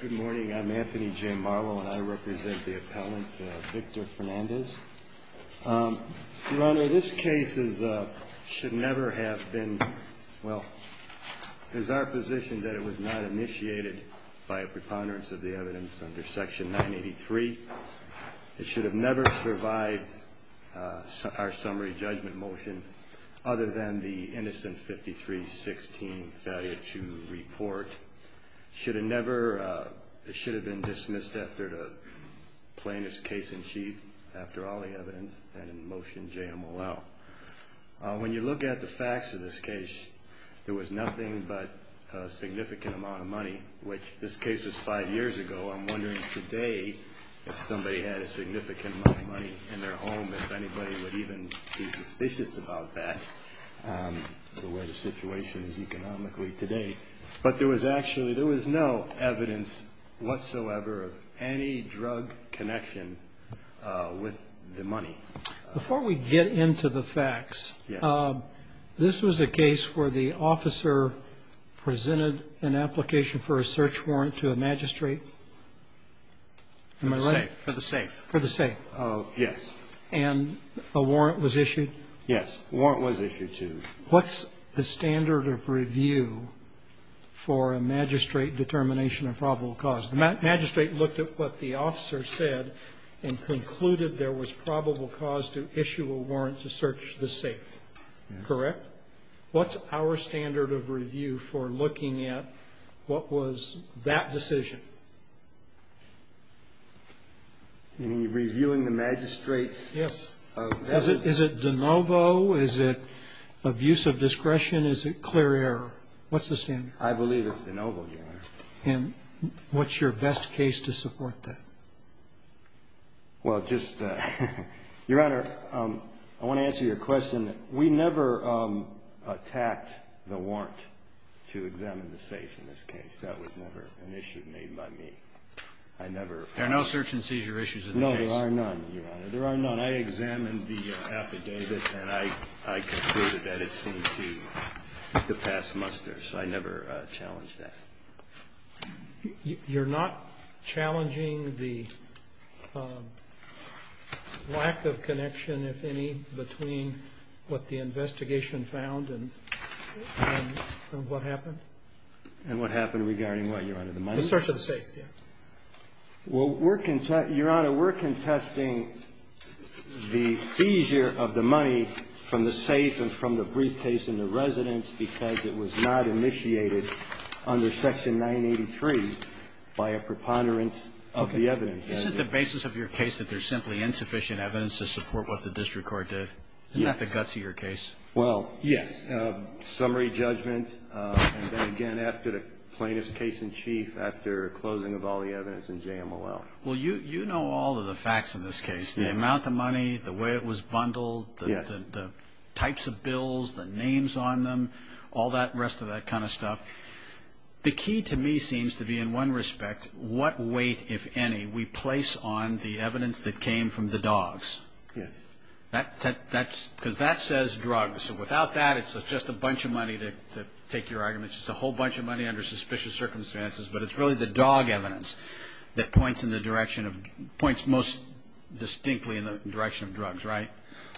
Good morning, I'm Anthony J. Marlowe and I represent the appellant Victor Fernandez. Your Honor, this case should never have been, well, it is our position that it was not initiated by a preponderance of the evidence under section 983. It should have never survived our summary judgment motion other than the innocent 53-16 failure to report. It should have never, it should have been dismissed after the plaintiff's case in chief after all the evidence and motion JMOL. When you look at the facts of this case, there was nothing but a significant amount of money, which this case was five years ago. I'm wondering today if somebody had a significant amount of money in their home, if anybody would even be suspicious about that. To where the situation is economically today. But there was actually, there was no evidence whatsoever of any drug connection with the money. Before we get into the facts, this was a case where the officer presented an application for a search warrant to a magistrate. For the safe. For the safe. Yes. And a warrant was issued? Yes. Warrant was issued, too. What's the standard of review for a magistrate determination of probable cause? The magistrate looked at what the officer said and concluded there was probable cause to issue a warrant to search the safe. Correct? What's our standard of review for looking at what was that decision? Reviewing the magistrate's message? Yes. Is it de novo? Is it abuse of discretion? Is it clear error? What's the standard? I believe it's de novo, Your Honor. And what's your best case to support that? Well, just, Your Honor, I want to answer your question. We never attacked the warrant to examine the safe in this case. That was never an issue made by me. I never ---- There are no search and seizure issues in the case? No, there are none, Your Honor. There are none. When I examined the affidavit and I concluded that it seemed to pass muster, so I never challenged that. You're not challenging the lack of connection, if any, between what the investigation found and what happened? And what happened regarding what, Your Honor, the money? The search of the safe, yes. Well, we're ---- Your Honor, we're contesting the seizure of the money from the safe and from the briefcase in the residence because it was not initiated under Section 983 by a preponderance of the evidence. Okay. Is it the basis of your case that there's simply insufficient evidence to support what the district court did? Yes. Isn't that the guts of your case? Well, yes. Summary judgment and then again after the plaintiff's case in chief, after closing of all the evidence in JMLL. Well, you know all of the facts in this case, the amount of money, the way it was bundled. Yes. The types of bills, the names on them, all that rest of that kind of stuff. The key to me seems to be in one respect what weight, if any, we place on the evidence that came from the dogs. Yes. Because that says drugs, so without that it's just a bunch of money to take your argument. It's just a whole bunch of money under suspicious circumstances, but it's really the dog evidence that points most distinctly in the direction of drugs, right?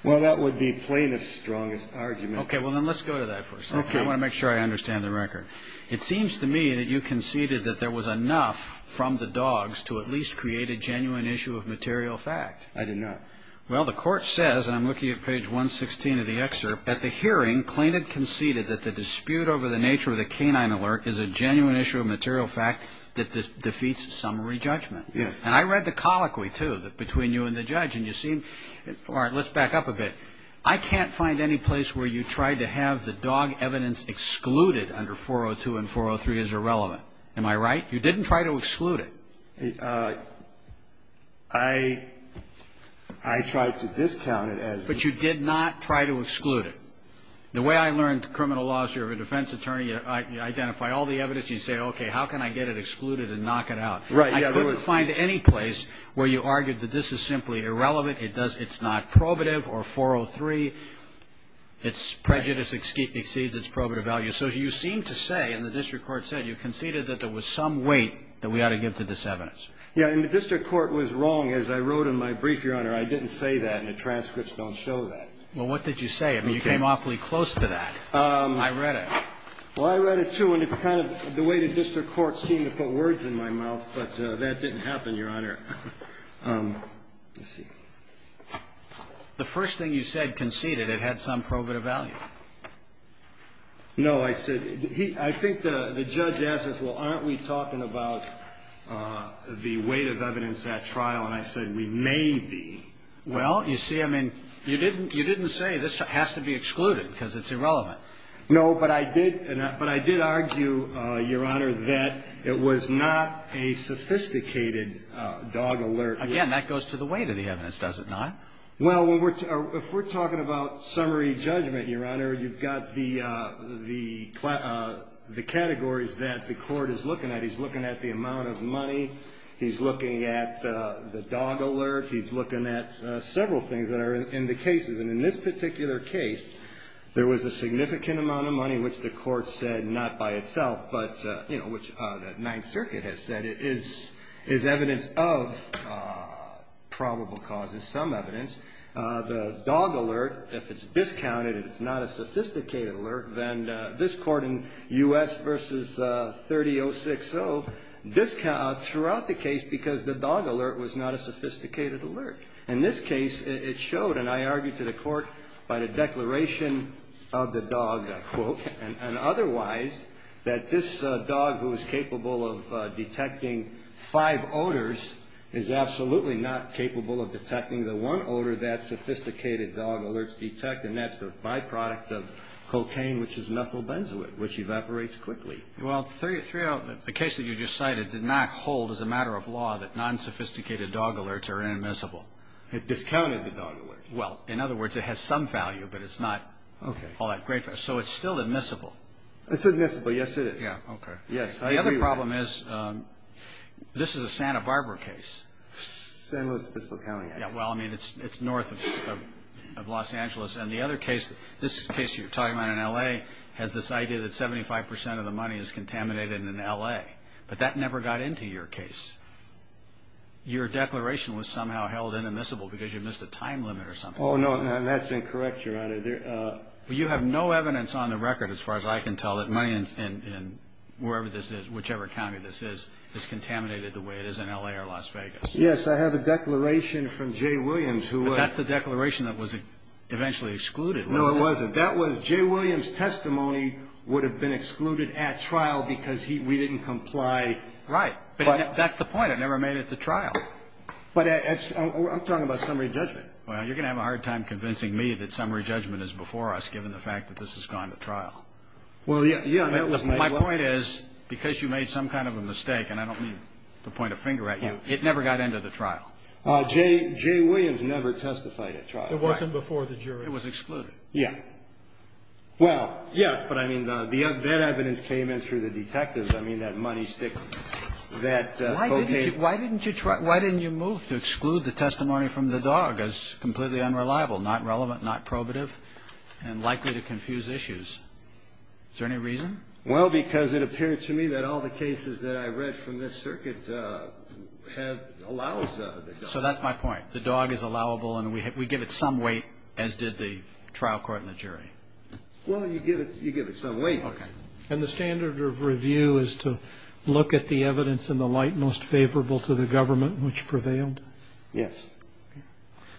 Well, that would be plaintiff's strongest argument. Okay. Well, then let's go to that for a second. Okay. I want to make sure I understand the record. It seems to me that you conceded that there was enough from the dogs to at least create a genuine issue of material fact. I did not. Well, the court says, and I'm looking at page 116 of the excerpt, at the hearing plaintiff conceded that the dispute over the nature of the canine alert is a genuine issue of material fact that defeats summary judgment. Yes. And I read the colloquy, too, between you and the judge. And you seem, all right, let's back up a bit. I can't find any place where you tried to have the dog evidence excluded under 402 and 403 as irrelevant. Am I right? You didn't try to exclude it. I tried to discount it as. But you did not try to exclude it. The way I learned criminal law is you're a defense attorney. You identify all the evidence. You say, okay, how can I get it excluded and knock it out? Right. And I couldn't find any place where you argued that this is simply irrelevant, it's not probative, or 403, it's prejudice exceeds its probative value. So you seem to say, and the district court said, you conceded that there was some weight that we ought to give to this evidence. Yeah. And the district court was wrong. As I wrote in my brief, Your Honor, I didn't say that, and the transcripts don't show that. Well, what did you say? I mean, you came awfully close to that. I read it. Well, I read it, too. And it's kind of the way the district court seemed to put words in my mouth, but that didn't happen, Your Honor. Let's see. The first thing you said, conceded, it had some probative value. No. I said he – I think the judge asked us, well, aren't we talking about the weight of evidence at trial? And I said, we may be. Well, you see, I mean, you didn't say this has to be excluded because it's irrelevant. No, but I did – but I did argue, Your Honor, that it was not a sophisticated dog alert. Again, that goes to the weight of the evidence, does it not? Well, if we're talking about summary judgment, Your Honor, you've got the categories that the court is looking at. He's looking at the amount of money. He's looking at the dog alert. He's looking at several things that are in the cases. And in this particular case, there was a significant amount of money, which the court said not by itself, but, you know, which the Ninth Circuit has said is evidence of probable causes, some evidence. The dog alert, if it's discounted and it's not a sophisticated alert, then this Court in U.S. v. 30-060 discounted throughout the case because the dog alert was not a sophisticated alert. In this case, it showed, and I argued to the court by the declaration of the dog, quote, and otherwise that this dog who is capable of detecting five odors is absolutely not capable of detecting the one odor that sophisticated dog alerts detect, and that's the byproduct of cocaine, which is methyl benzoate, which evaporates quickly. Well, the case that you just cited did not hold as a matter of law that non-sophisticated dog alerts are inadmissible. It discounted the dog alert. Well, in other words, it has some value, but it's not all that great value. So it's still admissible. It's admissible, yes, it is. Yeah, okay. Yes. Now, the other problem is this is a Santa Barbara case. San Luis Obispo County, I guess. Yeah, well, I mean, it's north of Los Angeles. And the other case, this case you're talking about in L.A., has this idea that 75% of the money is contaminated in L.A., but that never got into your case. Your declaration was somehow held inadmissible because you missed a time limit or something. Oh, no, that's incorrect, Your Honor. You have no evidence on the record, as far as I can tell, that money in wherever this is, whichever county this is, is contaminated the way it is in L.A. or Las Vegas. Yes, I have a declaration from Jay Williams. But that's the declaration that was eventually excluded, wasn't it? No, it wasn't. That was Jay Williams' testimony would have been excluded at trial because we didn't comply. Right. But that's the point. It never made it to trial. But I'm talking about summary judgment. Well, you're going to have a hard time convincing me that summary judgment is before us, given the fact that this has gone to trial. Well, yeah, that was my point. My point is, because you made some kind of a mistake, and I don't mean to point a finger at you, it never got into the trial. Jay Williams never testified at trial. It wasn't before the jury. It was excluded. Yeah. Well, yes, but, I mean, that evidence came in through the detectives. I mean, that money stick, that cocaine. Why didn't you move to exclude the testimony from the dog as completely unreliable, not relevant, not probative, and likely to confuse issues? Is there any reason? Well, because it appeared to me that all the cases that I read from this circuit have allowed the dog. So that's my point. The dog is allowable, and we give it some weight, as did the trial court and the jury. Well, you give it some weight. Okay. And the standard of review is to look at the evidence in the light most favorable to the government, which prevailed? Yes.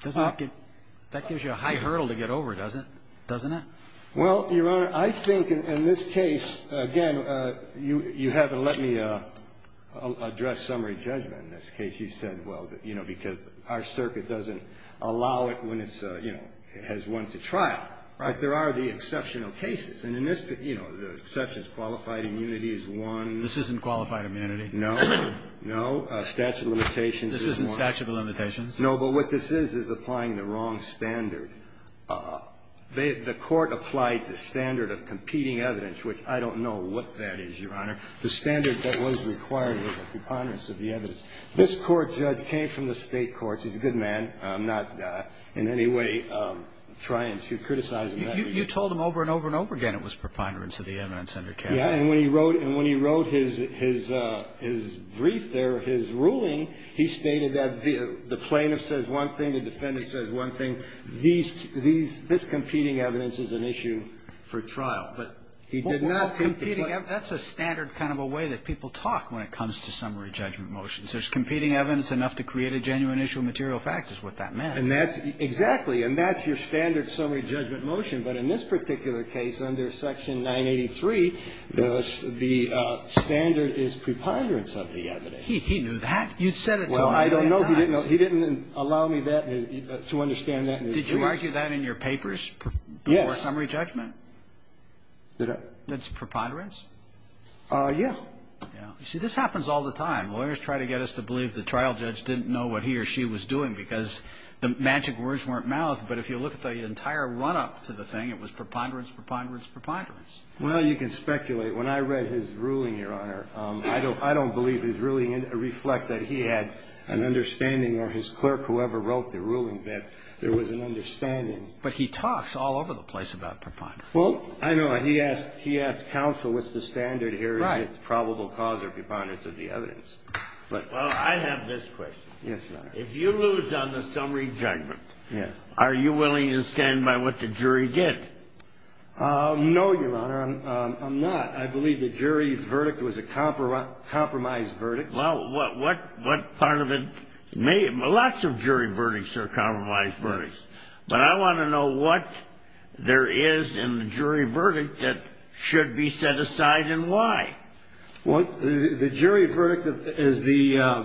That gives you a high hurdle to get over, doesn't it? Doesn't it? Well, Your Honor, I think in this case, again, you haven't let me address summary judgment in this case. You said, well, you know, because our circuit doesn't allow it when it's, you know, has won the trial. Right. But there are the exceptional cases. And in this, you know, the exceptions, qualified immunity is one. This isn't qualified immunity. No. No. Statute of limitations is one. This isn't statute of limitations. No, but what this is, is applying the wrong standard. The court applied the standard of competing evidence, which I don't know what that is, Your Honor. The standard that was required was a preponderance of the evidence. This court judge came from the State courts. He's a good man. I'm not in any way trying to criticize him. You told him over and over and over again it was preponderance of the evidence under Canada. Yeah. And when he wrote his brief there, his ruling, he stated that the plaintiff says one thing, the defendant says one thing. This competing evidence is an issue for trial. But he did not compete. That's a standard kind of a way that people talk when it comes to summary judgment motions. There's competing evidence enough to create a genuine issue of material fact is what that meant. And that's exactly. And that's your standard summary judgment motion. But in this particular case, under Section 983, the standard is preponderance of the evidence. He knew that. You said it to him many times. I don't know. He didn't allow me to understand that. Did you argue that in your papers? Yes. Before summary judgment? Did I? That's preponderance? Yeah. You see, this happens all the time. Lawyers try to get us to believe the trial judge didn't know what he or she was doing because the magic words weren't mouth. But if you look at the entire run up to the thing, it was preponderance, preponderance, preponderance. Well, you can speculate. When I read his ruling, Your Honor, I don't believe his ruling reflects that he had an understanding or his clerk, whoever wrote the ruling, that there was an understanding. But he talks all over the place about preponderance. Well, I know. He asked counsel what's the standard here, is it probable cause or preponderance of the evidence. Well, I have this question. Yes, Your Honor. If you lose on the summary judgment, are you willing to stand by what the jury did? No, Your Honor, I'm not. I believe the jury's verdict was a compromised verdict. Well, what part of it? Lots of jury verdicts are compromised verdicts. But I want to know what there is in the jury verdict that should be set aside and why. Well, the jury verdict is the,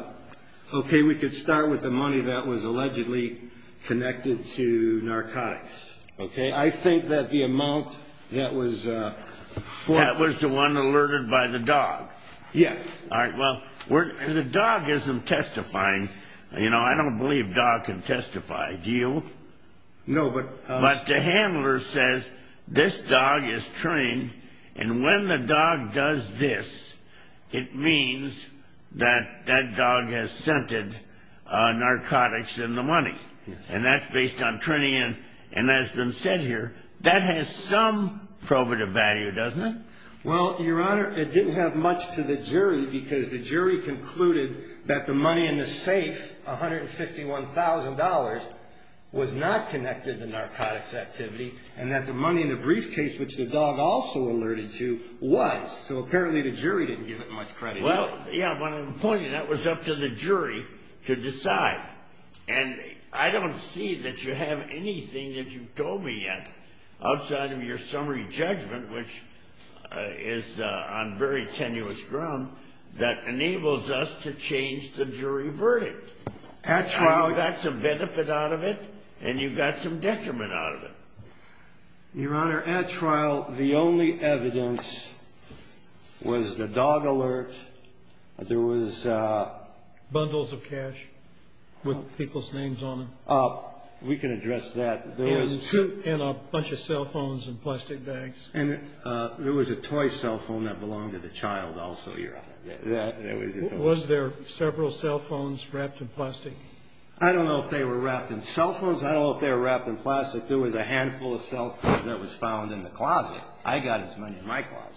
okay, we could start with the money that was allegedly connected to narcotics. Okay. I think that the amount that was... That was the one alerted by the dog. Yes. All right. Well, the dog isn't testifying. You know, I don't believe dogs can testify. Do you? No, but... But the handler says this dog is trained, and when the dog does this, it means that that dog has scented narcotics in the money. Yes. And that's based on training and has been said here. That has some probative value, doesn't it? Well, Your Honor, it didn't have much to the jury because the jury concluded that the money in the safe, $151,000, was not connected to narcotics activity, and that the money in the briefcase, which the dog also alerted to, was. So apparently the jury didn't give it much credit. Well, yeah, but I'm pointing that was up to the jury to decide. And I don't see that you have anything that you told me yet outside of your summary judgment, which is on very tenuous ground, that enables us to change the jury verdict. At trial... You got some benefit out of it, and you got some detriment out of it. Your Honor, at trial, the only evidence was the dog alert. There was... Bundles of cash with people's names on them. We can address that. And a bunch of cell phones in plastic bags. And there was a toy cell phone that belonged to the child also, Your Honor. Was there several cell phones wrapped in plastic? I don't know if they were wrapped in cell phones. I don't know if they were wrapped in plastic. There was a handful of cell phones that was found in the closet. I got as many in my closet.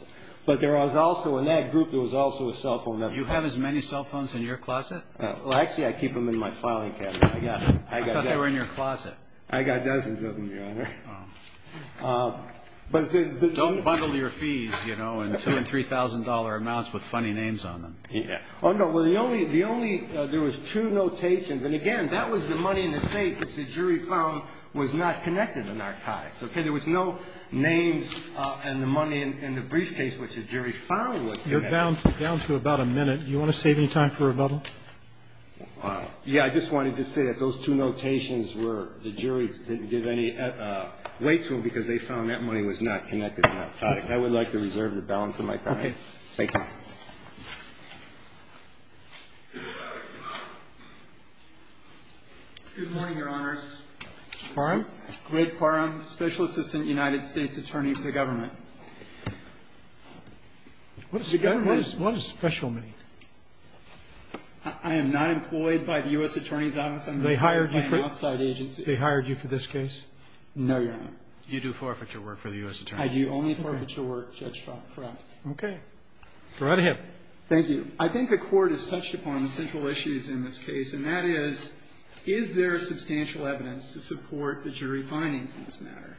But there was also, in that group, there was also a cell phone that... You have as many cell phones in your closet? Well, actually, I keep them in my filing cabinet. I got... I thought they were in your closet. I got dozens of them, Your Honor. But the... Don't bundle your fees, you know, in $3,000 amounts with funny names on them. Oh, no. Well, the only... There was two notations. And, again, that was the money in the safe, which the jury found was not connected to narcotics. Okay? There was no names and the money in the briefcase, which the jury found was connected. You're down to about a minute. Do you want to save any time for rebuttal? Yeah. I just wanted to say that those two notations were... The jury didn't give any weight to them because they found that money was not connected to narcotics. I would like to reserve the balance of my time. Okay. Thank you. Good morning, Your Honors. Quorum? Greg Quorum, Special Assistant United States Attorney for the Government. What does the government... What does special mean? I am not employed by the U.S. Attorney's Office. I'm employed by an outside agency. They hired you for this case? No, Your Honor. You do forfeiture work for the U.S. Attorney's Office. I do only forfeiture work, Judge Trump. Correct. Okay. Go right ahead. Thank you. I think the Court has touched upon the central issues in this case, and that is, is there substantial evidence to support the jury findings in this matter?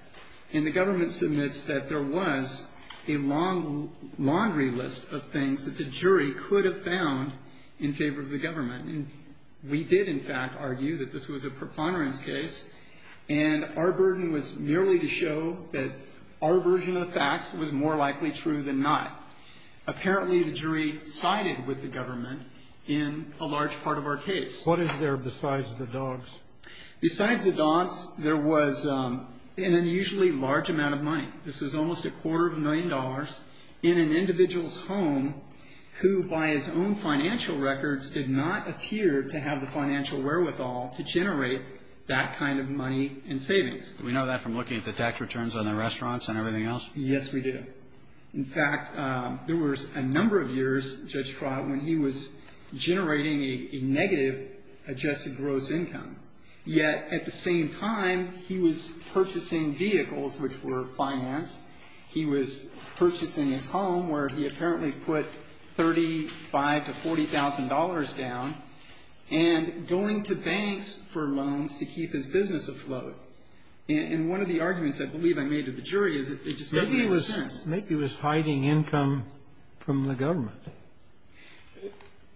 And the government submits that there was a long laundry list of things that the jury could have found in favor of the government. And we did, in fact, argue that this was a preponderance case, and our burden was merely to show that our version of the facts was more likely true than not. Apparently, the jury sided with the government in a large part of our case. What is there besides the dogs? Besides the dogs, there was an unusually large amount of money. This was almost a quarter of a million dollars in an individual's home who, by his own financial records, did not appear to have the financial wherewithal to generate that kind of money in savings. Do we know that from looking at the tax returns on the restaurants and everything else? Yes, we do. In fact, there was a number of years, Judge Trott, when he was generating a negative adjusted gross income. Yet, at the same time, he was purchasing vehicles, which were financed. He was purchasing his home, where he apparently put $35,000 to $40,000 down, and going to banks for loans to keep his business afloat. And one of the arguments I believe I made to the jury is that it just doesn't make sense. Maybe he was hiding income from the government.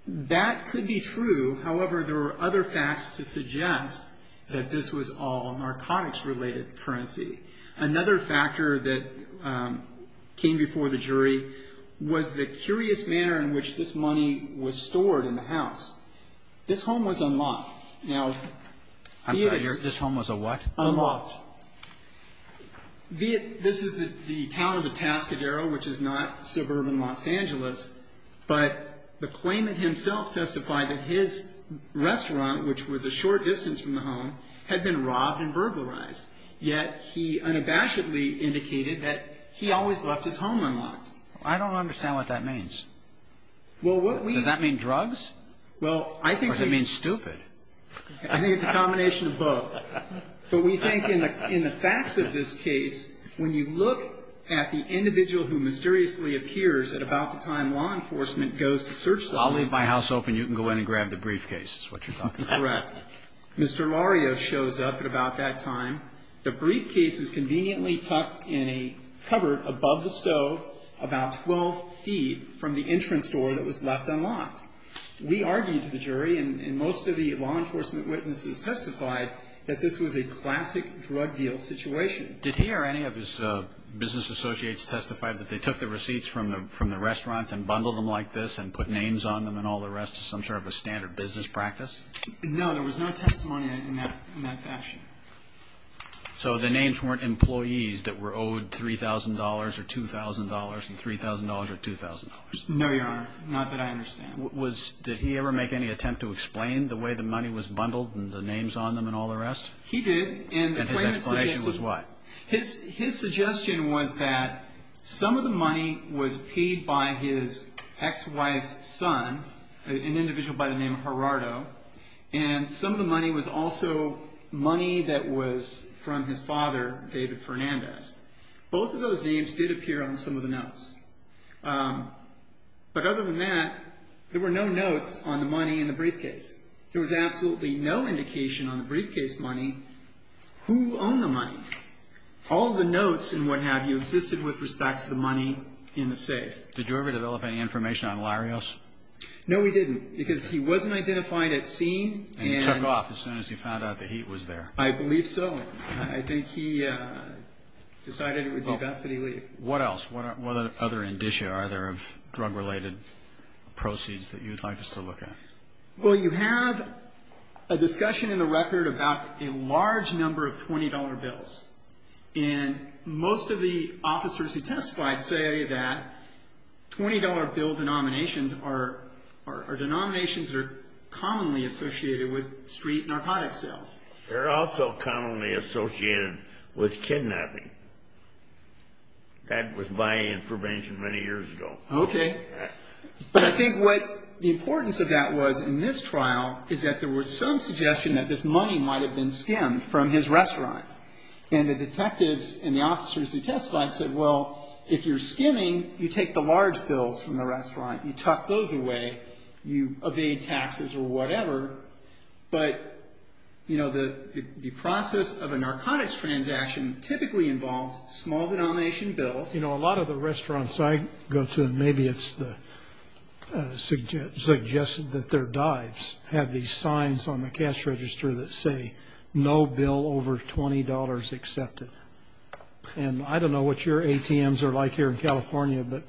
That could be true. However, there were other facts to suggest that this was all narcotics-related currency. Another factor that came before the jury was the curious manner in which this money was stored in the house. This home was unlocked. I'm sorry. This home was a what? Unlocked. This is the town of Atascadero, which is not suburban Los Angeles. But the claimant himself testified that his restaurant, which was a short distance from the home, had been robbed and burglarized. Yet, he unabashedly indicated that he always left his home unlocked. I don't understand what that means. Does that mean drugs? Well, I think it means stupid. I think it's a combination of both. But we think in the facts of this case, when you look at the individual who mysteriously appears at about the time law enforcement goes to search the home. I'll leave my house open. You can go in and grab the briefcase is what you're talking about. Correct. Mr. Lario shows up at about that time. The briefcase is conveniently tucked in a cupboard above the stove about 12 feet from the entrance door that was left unlocked. We argued to the jury and most of the law enforcement witnesses testified that this was a classic drug deal situation. Did he or any of his business associates testify that they took the receipts from the restaurants and bundled them like this and put names on them and all the rest as some sort of a standard business practice? No. There was no testimony in that fashion. So the names weren't employees that were owed $3,000 or $2,000 and $3,000 or $2,000? No, Your Honor. Not that I understand. Did he ever make any attempt to explain the way the money was bundled and the names on them and all the rest? He did. And his explanation was what? His suggestion was that some of the money was paid by his ex-wife's son, an individual by the name of Gerardo, and some of the money was also money that was from his father, David Fernandez. But other than that, there were no notes on the money in the briefcase. There was absolutely no indication on the briefcase money who owned the money. All the notes and what have you existed with respect to the money in the safe. Did you ever develop any information on Larios? No, we didn't because he wasn't identified at scene. And he took off as soon as he found out that he was there. I believe so. I think he decided it would be best that he leave. What else? What other indicia are there of drug-related proceeds that you'd like us to look at? Well, you have a discussion in the record about a large number of $20 bills. And most of the officers who testified say that $20 bill denominations are denominations that are commonly associated with street narcotics sales. They're also commonly associated with kidnapping. That was my information many years ago. Okay. But I think what the importance of that was in this trial is that there was some suggestion that this money might have been skimmed from his restaurant. And the detectives and the officers who testified said, well, if you're skimming, you take the large bills from the restaurant. You tuck those away. You evade taxes or whatever. But the process of a narcotics transaction typically involves small denomination bills. You know, a lot of the restaurants I go to, and maybe it's suggested that they're dives, have these signs on the cash register that say, no bill over $20 accepted. And I don't know what your ATMs are like here in California, but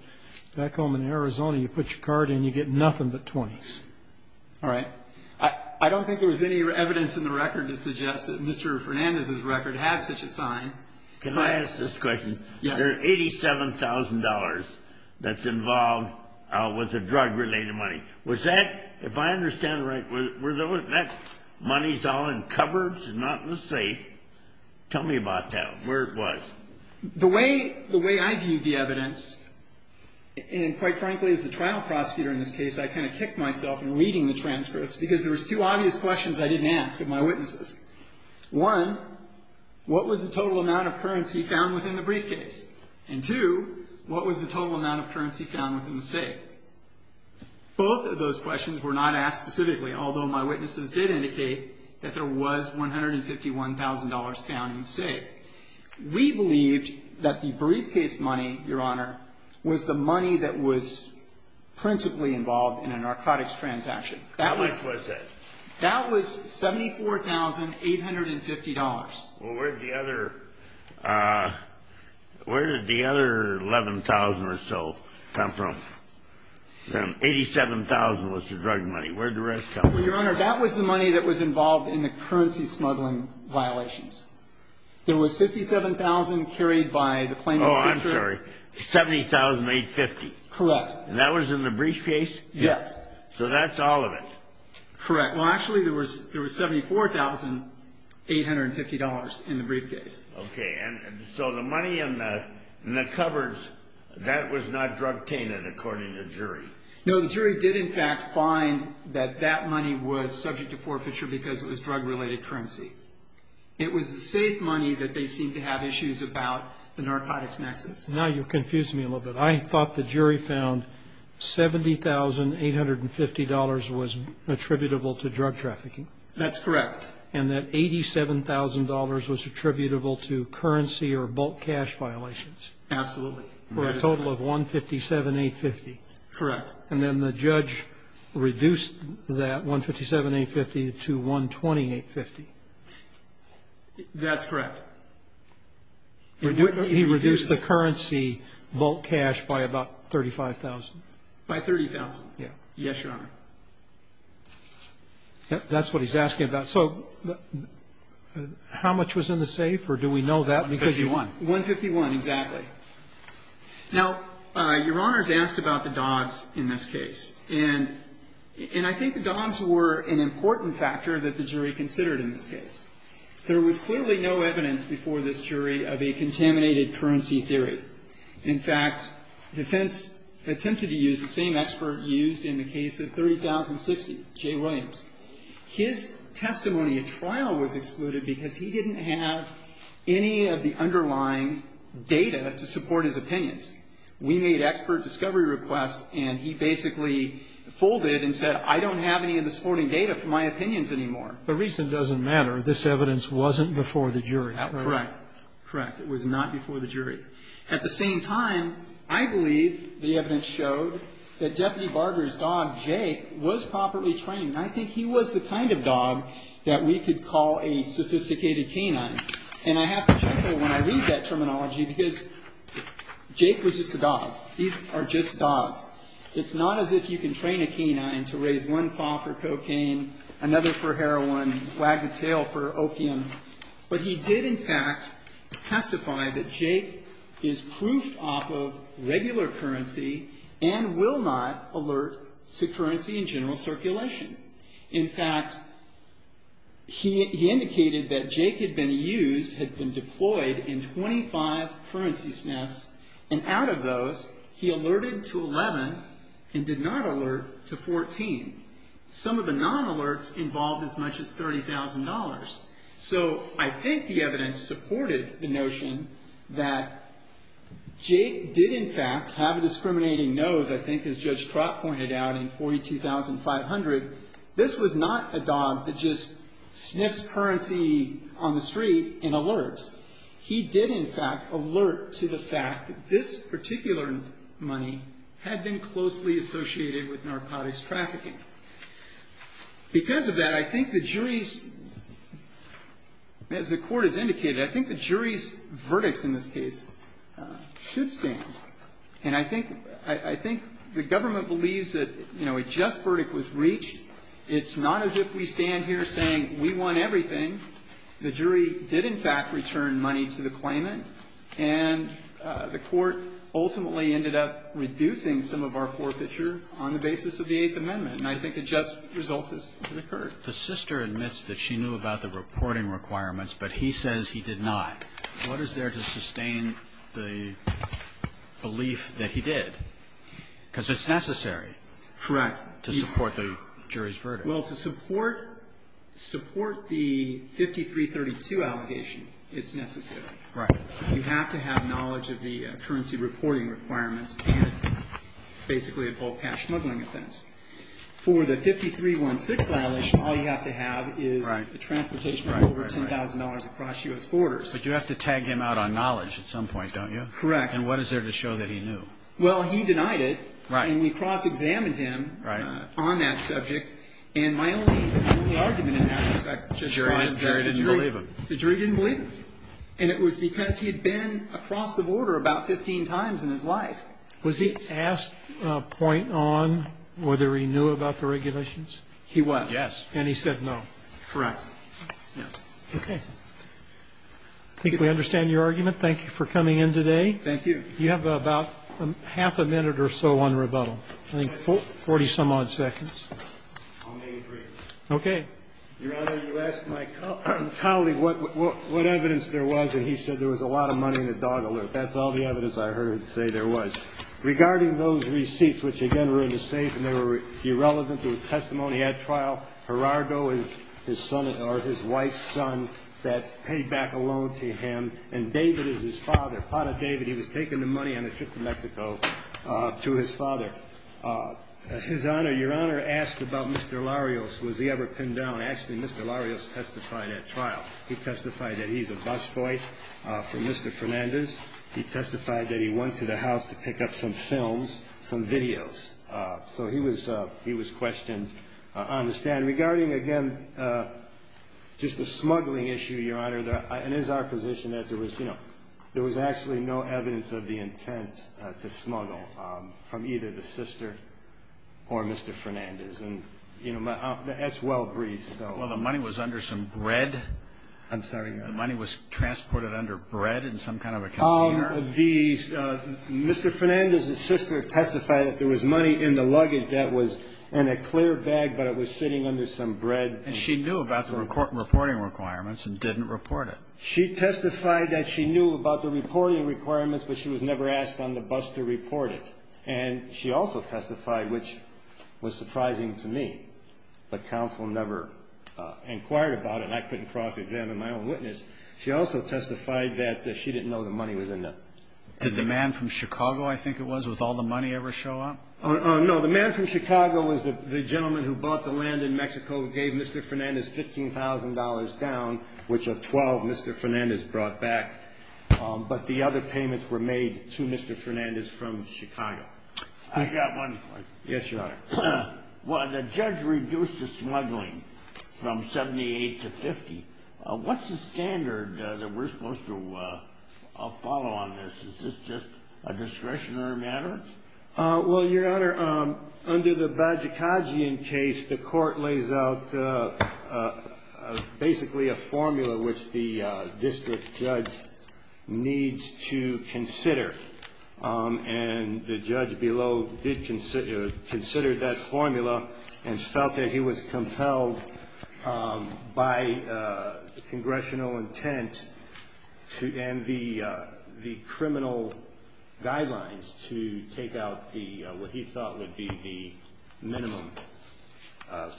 back home in Arizona, you put your card in, you get nothing but 20s. All right. I don't think there was any evidence in the record to suggest that Mr. Fernandez's record had such a sign. Can I ask this question? Yes. There are $87,000 that's involved with the drug-related money. Was that, if I understand right, that money's all in cupboards and not in the safe? Tell me about that, where it was. The way I viewed the evidence, and quite frankly, as the trial prosecutor in this case, I kind of kicked myself in reading the transcripts because there was two obvious questions I didn't ask of my witnesses. One, what was the total amount of currency found within the briefcase? And two, what was the total amount of currency found within the safe? Both of those questions were not asked specifically, although my witnesses did indicate that there was $151,000 found in the safe. We believed that the briefcase money, Your Honor, was the money that was principally involved in a narcotics transaction. How much was that? That was $74,850. Well, where did the other 11,000 or so come from? 87,000 was the drug money. Where did the rest come from? Well, Your Honor, that was the money that was involved in the currency smuggling violations. There was $57,000 carried by the claimant's sister. Oh, I'm sorry. $70,850. Correct. And that was in the briefcase? Yes. So that's all of it. Correct. Well, actually, there was $74,850 in the briefcase. Okay. And so the money in the cupboards, that was not drug-tainted, according to the jury. No, the jury did, in fact, find that that money was subject to forfeiture because it was drug-related currency. It was safe money that they seemed to have issues about the narcotics nexus. Now you've confused me a little bit. I thought the jury found $70,850 was attributable to drug trafficking. That's correct. And that $87,000 was attributable to currency or bulk cash violations. Absolutely. For a total of $157,850. Correct. And then the judge reduced that $157,850 to $120,850. That's correct. He reduced the currency bulk cash by about $35,000. By $30,000. Yeah. Yes, Your Honor. That's what he's asking about. So how much was in the safe, or do we know that? $151,000. $151,000, exactly. Now, Your Honor's asked about the dogs in this case, and I think the dogs were an important factor that the jury considered in this case. There was clearly no evidence before this jury of a contaminated currency theory. In fact, defense attempted to use the same expert used in the case of 30,060, Jay Williams. His testimony at trial was excluded because he didn't have any of the underlying data to support his opinions. We made expert discovery requests, and he basically folded and said, I don't have any of the supporting data for my opinions anymore. The reason doesn't matter. This evidence wasn't before the jury. Correct. Correct. It was not before the jury. At the same time, I believe the evidence showed that Deputy Barber's dog, Jake, was properly trained. And I think he was the kind of dog that we could call a sophisticated canine. And I have to check it when I read that terminology, because Jake was just a dog. These are just dogs. It's not as if you can train a canine to raise one paw for cocaine, another for heroin, wag the tail for opium. But he did, in fact, testify that Jake is proofed off of regular currency and will not alert to currency in general circulation. In fact, he indicated that Jake had been used, had been deployed in 25 currency sniffs, and out of those, he alerted to 11 and did not alert to 14. Some of the non-alerts involved as much as $30,000. So I think the evidence supported the notion that Jake did, in fact, have a dog that just sniffs currency on the street and alerts. He did, in fact, alert to the fact that this particular money had been closely associated with narcotics trafficking. Because of that, I think the jury's, as the court has indicated, I think the jury's verdicts in this case should stand. And I think the government believes that, you know, a just verdict was reached. It's not as if we stand here saying we won everything. The jury did, in fact, return money to the claimant. And the court ultimately ended up reducing some of our forfeiture on the basis of the Eighth Amendment. And I think a just result has occurred. The sister admits that she knew about the reporting requirements, but he says he did not. What is there to sustain the belief that he did? Because it's necessary. Correct. To support the jury's verdict. Well, to support the 5332 allegation, it's necessary. Right. You have to have knowledge of the currency reporting requirements and basically a full cash smuggling offense. For the 5316 violation, all you have to have is transportation of over $10,000 across U.S. borders. But you have to tag him out on knowledge at some point, don't you? Correct. And what is there to show that he knew? Well, he denied it. Right. And we cross-examined him on that subject. And my only argument in that respect is that the jury didn't believe him. The jury didn't believe him. And it was because he had been across the border about 15 times in his life. Was he asked to point on whether he knew about the regulations? He was. Yes. And he said no. Correct. Okay. I think we understand your argument. Thank you for coming in today. Thank you. You have about half a minute or so on rebuttal. I think 40-some-odd seconds. I'll make it three. Okay. Your Honor, you asked my colleague what evidence there was, and he said there was a lot of money in the dog alert. That's all the evidence I heard say there was. Regarding those receipts, which, again, were in the safe and they were irrelevant to his testimony at trial, Gerardo is his son or his wife's son that paid back a loan to him, and David is his father, Pata David. He was taking the money on a trip to Mexico to his father. His Honor, your Honor asked about Mr. Larios. Was he ever pinned down? Actually, Mr. Larios testified at trial. He testified that he's a busboy from Mr. Fernandez. He testified that he went to the house to pick up some films, some videos. So he was questioned on the stand. Regarding, again, just the smuggling issue, your Honor, it is our position that there was actually no evidence of the intent to smuggle from either the sister or Mr. Fernandez. That's well briefed. Well, the money was under some bread? I'm sorry. The money was transported under bread in some kind of a container? Your Honor, the Mr. Fernandez's sister testified that there was money in the luggage that was in a clear bag, but it was sitting under some bread. And she knew about the reporting requirements and didn't report it? She testified that she knew about the reporting requirements, but she was never asked on the bus to report it. And she also testified, which was surprising to me, but counsel never inquired about it and I couldn't cross-examine my own witness. She also testified that she didn't know the money was in there. Did the man from Chicago, I think it was, with all the money, ever show up? No. The man from Chicago was the gentleman who bought the land in Mexico, gave Mr. Fernandez $15,000 down, which of $12,000 Mr. Fernandez brought back. But the other payments were made to Mr. Fernandez from Chicago. I've got one. Yes, Your Honor. Well, the judge reduced the smuggling from 78 to 50. What's the standard that we're supposed to follow on this? Is this just a discretionary matter? Well, Your Honor, under the Bajikajian case, the court lays out basically a formula which the district judge needs to consider. And the judge below did consider that formula and felt that he was compelled by the congressional intent and the criminal guidelines to take out what he thought would be the minimum of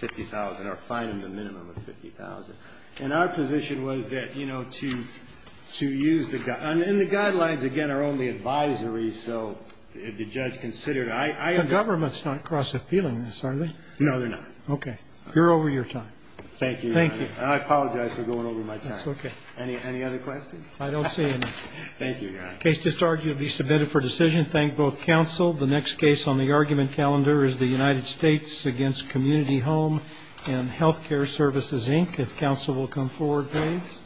$50,000 or fine him the minimum of $50,000. And our position was that, you know, to use the guidelines. And the guidelines, again, are only advisory, so the judge considered. The government's not cross-appealing in this, are they? No, they're not. Okay. You're over your time. Thank you, Your Honor. Thank you. I apologize for going over my time. That's okay. Any other questions? I don't see any. Thank you, Your Honor. The case is submitted for decision. Thank both counsel. The next case on the argument calendar is the United States against Community Home and Healthcare Services, Inc. If counsel will come forward, please.